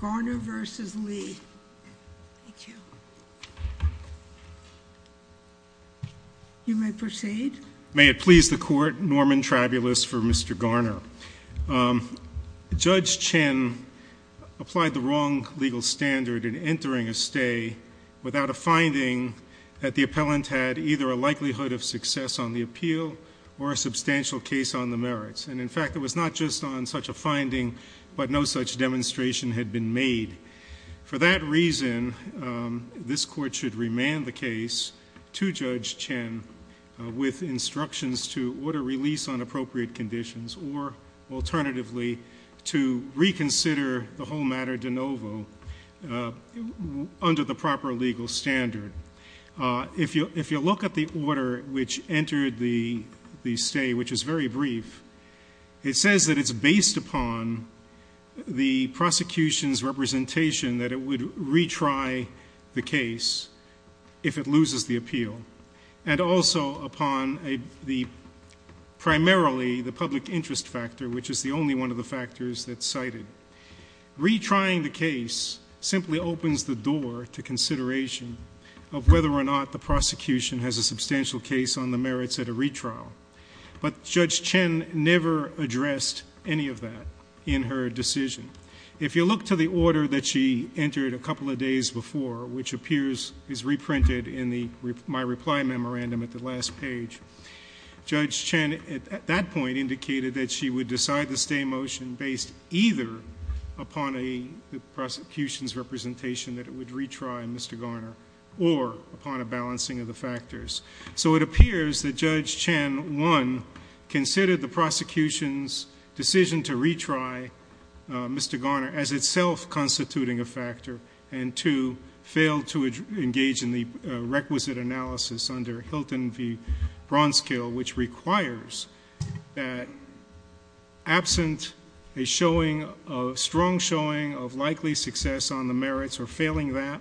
Garner v. Lee. Thank you. You may proceed. May it please the Court, Norman Trabulis for Mr. Garner. Judge Chin applied the wrong legal standard in entering a stay without a finding that the appellant had either a likelihood of success on the appeal or a substantial case on the merits, and in fact it was not just on such a finding, but no such demonstration had been made. For that reason, this Court should remand the case to Judge Chin with instructions to order release on appropriate conditions or, alternatively, to reconsider the whole matter de novo under the proper legal standard. If you look at the case, it says that it's based upon the prosecution's representation that it would retry the case if it loses the appeal, and also upon primarily the public interest factor, which is the only one of the factors that's cited. Retrying the case simply opens the door to consideration of whether or not the prosecution has a substantial case on the merits at a retrial. But Judge Chin never addressed any of that in her decision. If you look to the order that she entered a couple of days before, which appears is reprinted in my reply memorandum at the last page, Judge Chin at that point indicated that she would decide the stay motion based either upon the prosecution's representation that it would retry Mr. Garner or upon a balancing of the factors. So it appears that Judge Chin, one, considered the prosecution's decision to retry Mr. Garner as itself constituting a factor, and two, failed to engage in the requisite analysis under Hilton v. Bronzekill, which requires that absent a showing of strong showing of likely success on the merits or failing that,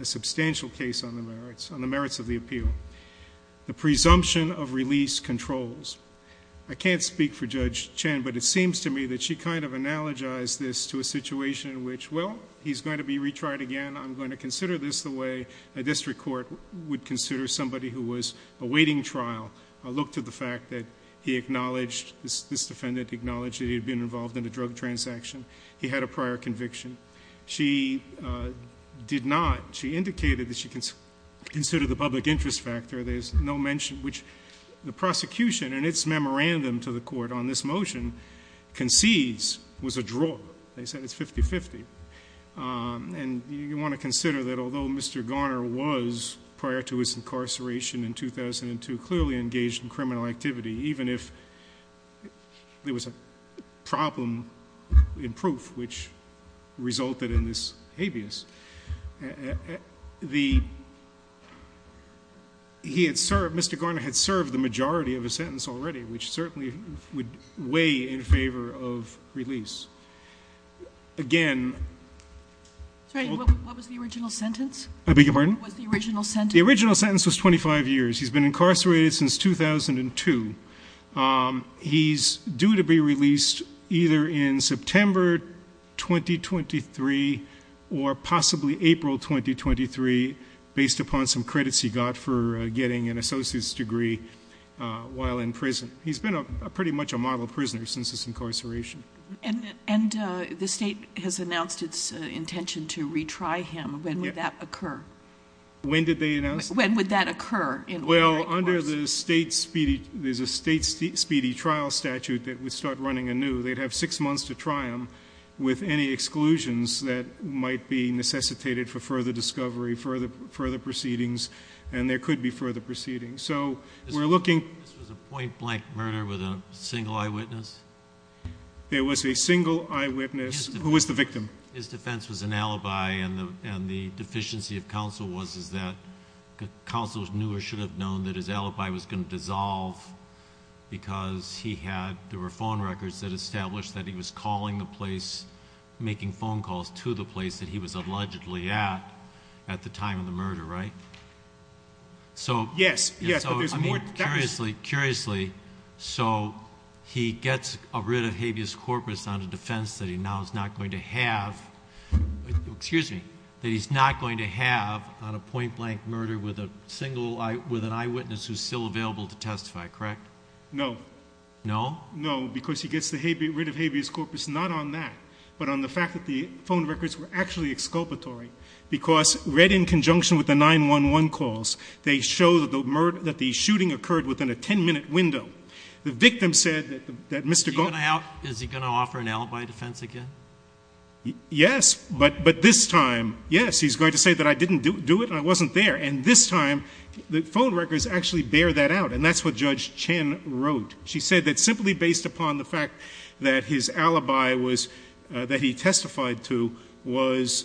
a substantial case on the merits, on the merits of the appeal. The presumption of release controls. I can't speak for Judge Chin, but it seems to me that she kind of analogized this to a situation in which, well, he's going to be retried again. I'm going to consider this the way a district court would consider somebody who was awaiting trial. Look to the fact that he acknowledged, this defendant acknowledged that he had been involved in a drug transaction. He had a prior conviction. She did not. She indicated that she considered the public interest factor. There's no mention, which the prosecution and its memorandum to the court on this motion concedes was a draw. They said it's 50-50. And you want to consider that although Mr. Garner was, prior to his incarceration in 2002, clearly engaged in criminal activity, even if there was a problem in proof, which resulted in this habeas, the, he had served, Mr. Garner had served the majority of a sentence already, which certainly would weigh in favor of release. Again. What was the original sentence? I beg your pardon? What was the original sentence? The original sentence was 25 years. He's been incarcerated since 2002. He's due to be released either in September 2023 or possibly April 2023 based upon some credits he got for getting an associate's degree while in prison. He's been a pretty much a model prisoner since his incarceration. And the state has announced its intention to retry him. When would that occur? When did they announce? When would that occur? Well, under the state speedy, there's a state speedy trial statute that would start running anew. They'd have six months to try him with any exclusions that might be necessitated for further discovery, further proceedings, and there could be further proceedings. So we're looking. This was a point-blank murder with a single eyewitness? There was a single eyewitness. Who was the victim? His defense was an alibi and the deficiency of counsel was, is that counsel knew or should have known that his alibi was going to dissolve because he had, there were phone records that established that he was calling the place, making phone calls to the place that he was allegedly at, at the time of the murder, right? Yes. Curiously, so he gets rid of habeas corpus on a defense that he now is not going to have, excuse me, that he's not going to have on a point-blank murder with a single eye, with an eyewitness who's still available to testify, correct? No. No? No, because he gets the habeas, rid of habeas corpus not on that, but on the fact that the phone records were actually exculpatory because read in conjunction with the 9-1-1 calls, they show that the murder, that the shooting occurred within a 10-minute window. The victim said that Mr. Garner... Is he going to offer an alibi defense again? Yes, but this time, yes, he's going to say that I didn't do it, I wasn't there, and this time, the phone records actually bear that out, and that's what Judge Chen wrote. She said that simply based upon the fact that his alibi was, that he testified to, was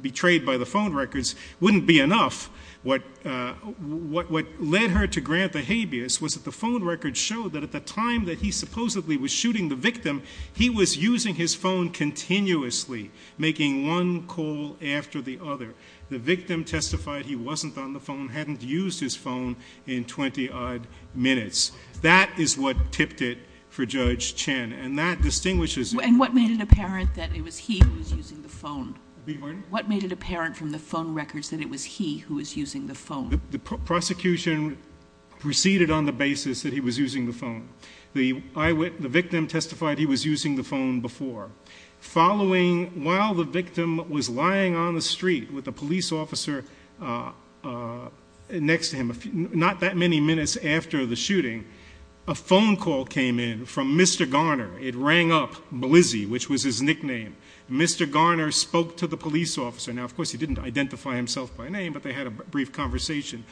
betrayed by the phone records wouldn't be enough. What led her to grant the habeas was that the phone records showed that at the time that he supposedly was shooting the victim, he was using his phone. The victim testified he wasn't on the phone, hadn't used his phone in 20-odd minutes. That is what tipped it for Judge Chen, and that distinguishes... And what made it apparent that it was he who was using the phone? Beg your pardon? What made it apparent from the phone records that it was he who was using the phone? The prosecution proceeded on the basis that he was using the phone. The victim testified he was using the phone before. Following, while the victim was lying on the street with the police officer next to him, not that many minutes after the shooting, a phone call came in from Mr. Garner. It rang up, Blizzy, which was his nickname. Mr. Garner spoke to the police officer. Now, of course, he didn't identify himself by name, but they had a brief conversation.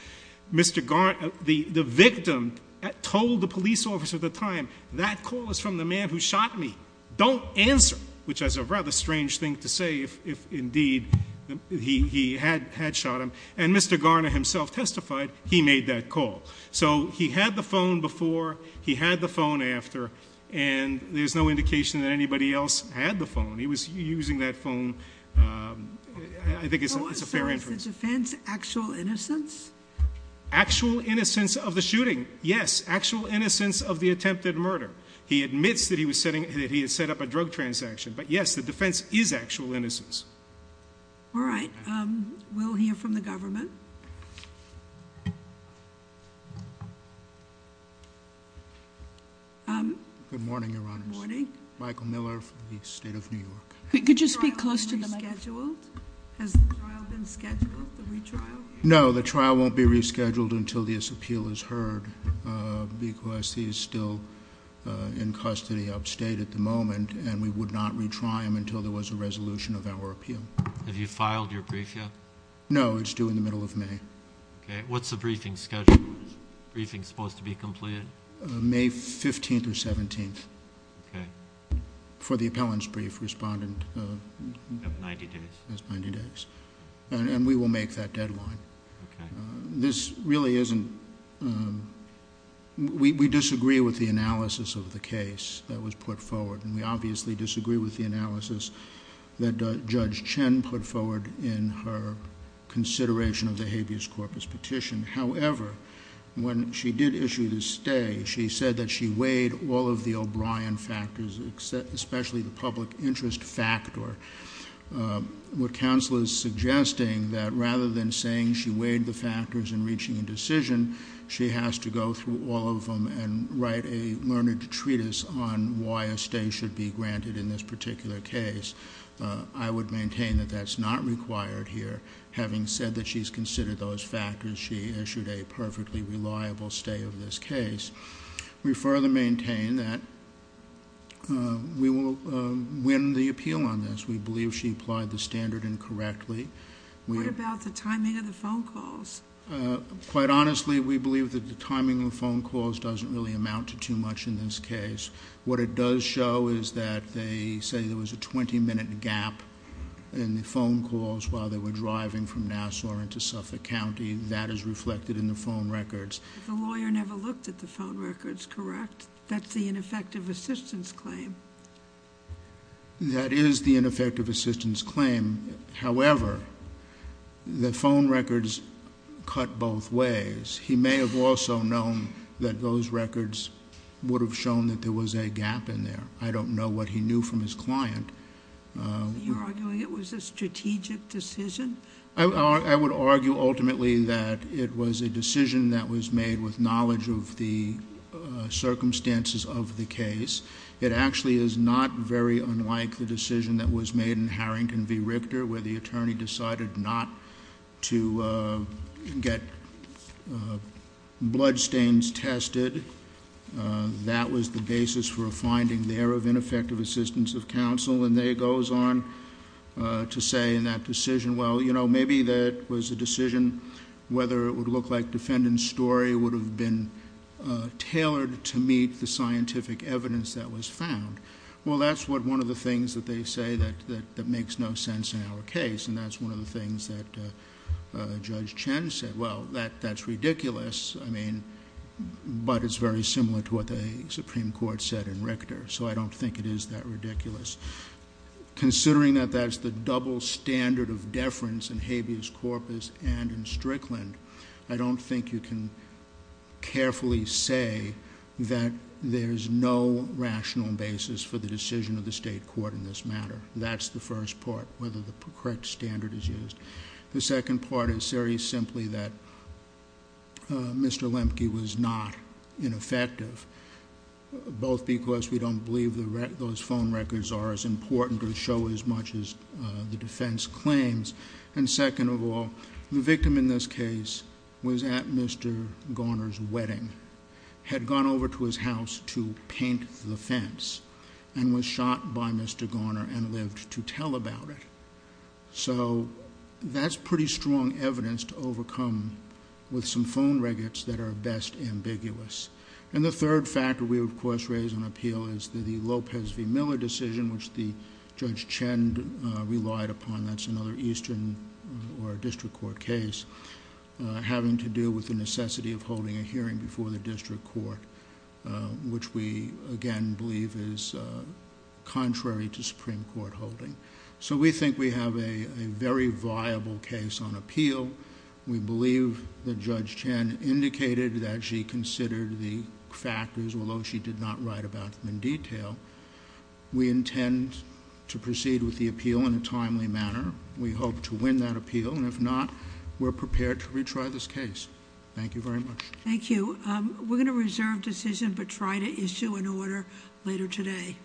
Mr. Garner, the victim, told the police officer at the time, that call is from the man who shot me. Don't answer, which is a rather strange thing to say, if indeed he had shot him. And Mr. Garner himself testified he made that call. So he had the phone before, he had the phone after, and there's no indication that anybody else had the phone. He was using that phone, I think it's a fair inference. So as a defense, actual innocence? Actual innocence of the shooting, yes. Actual innocence of the attempted murder. He admits that he had set up a drug transaction. But yes, the defense is actual innocence. All right. We'll hear from the government. Good morning, your honors. Good morning. Michael Miller from the state of New York. Could you speak closer to the microphone? Has the trial been rescheduled, the retrial? No, the trial won't be rescheduled until this appeal is heard. Because he's still in custody upstate at the moment, and we would not retry him until there was a resolution of our appeal. Have you filed your brief yet? No, it's due in the middle of May. Okay. What's the briefing schedule? Is the briefing supposed to be completed? May 15th or 17th. Okay. For the appellant's brief, respondent. You have 90 days. Has 90 days. And we will make that deadline. Okay. This really isn't we disagree with the analysis of the case that was put forward. And we obviously disagree with the analysis that Judge Chen put forward in her consideration of the habeas corpus petition. However, when she did issue the stay, she said that she weighed all of the O'Brien factors, especially the public interest factor. What counsel is suggesting that rather than saying she weighed the factors in reaching a decision, she has to go through all of them and write a learned treatise on why a stay should be granted in this particular case. I would maintain that that's not required here. Having said that she's considered those factors, she issued a perfectly reliable stay of this case. We further maintain that we will win the appeal on this. We believe she applied the standard incorrectly. What about the timing of the phone calls? Quite honestly, we believe that the timing of phone calls doesn't really amount to too much in this case. What it does show is that they say there was a 20-minute gap in the phone calls while they were driving from Nassau into Suffolk County. That is reflected in the phone records. The lawyer never looked at the phone records, correct? That's the ineffective assistance claim. That is the ineffective assistance claim. However, the phone records cut both ways. He may have also known that those records would have shown that there was a gap in there. I don't know what he knew from his client. You're arguing it was a strategic decision? I would argue ultimately that it was a decision that was made with knowledge of the circumstances of the case. It actually is not very unlike the decision that was made in the case of the victim where the attorney decided not to get bloodstains tested. That was the basis for a finding there of ineffective assistance of counsel. And there it goes on to say in that decision, well, you know, maybe that was a decision whether it would look like defendant's story would have been tailored to meet the scientific evidence that was found. Well, that's one of the things that they say that makes no sense in our case. And that's one of the things that Judge Chen said. Well, that's ridiculous, I mean, but it's very similar to what the Supreme Court said in Richter. So I don't think it is that ridiculous. Considering that that's the double standard of deference in habeas corpus and in Strickland, I don't think you can carefully say that there's no rational basis for the decision of the state court in this matter. That's the first part, whether the correct standard is used. The second part is very simply that Mr. Lemke was not ineffective, both because we don't believe those phone records are as important or show as much as the defense claims. And second of all, the victim in this case was at Mr. Garner's wedding, had gone over to his house to paint the fence, and was shot by Mr. Garner and lived to tell about it. So that's pretty strong evidence to overcome with some phone records that are best ambiguous. And the third factor we would, of course, raise and appeal is the Lopez v. Miller decision, which the Judge Chen relied upon. That's another eastern or district court case, having to do with the necessity of holding a hearing before the district court, which we, again, believe is contrary to Supreme Court holding. So we think we have a very viable case on appeal. We believe that Judge Chen indicated that she considered the factors, although she did not write about them in detail. We intend to proceed with the appeal in a timely manner. We hope to win that appeal, and if not, we're prepared to retry this case. Thank you very much. Thank you. We're going to reserve decision but try to issue an order later today.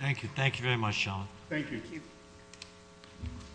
Thank you. Thank you very much, Sean. Thank you. Thank you.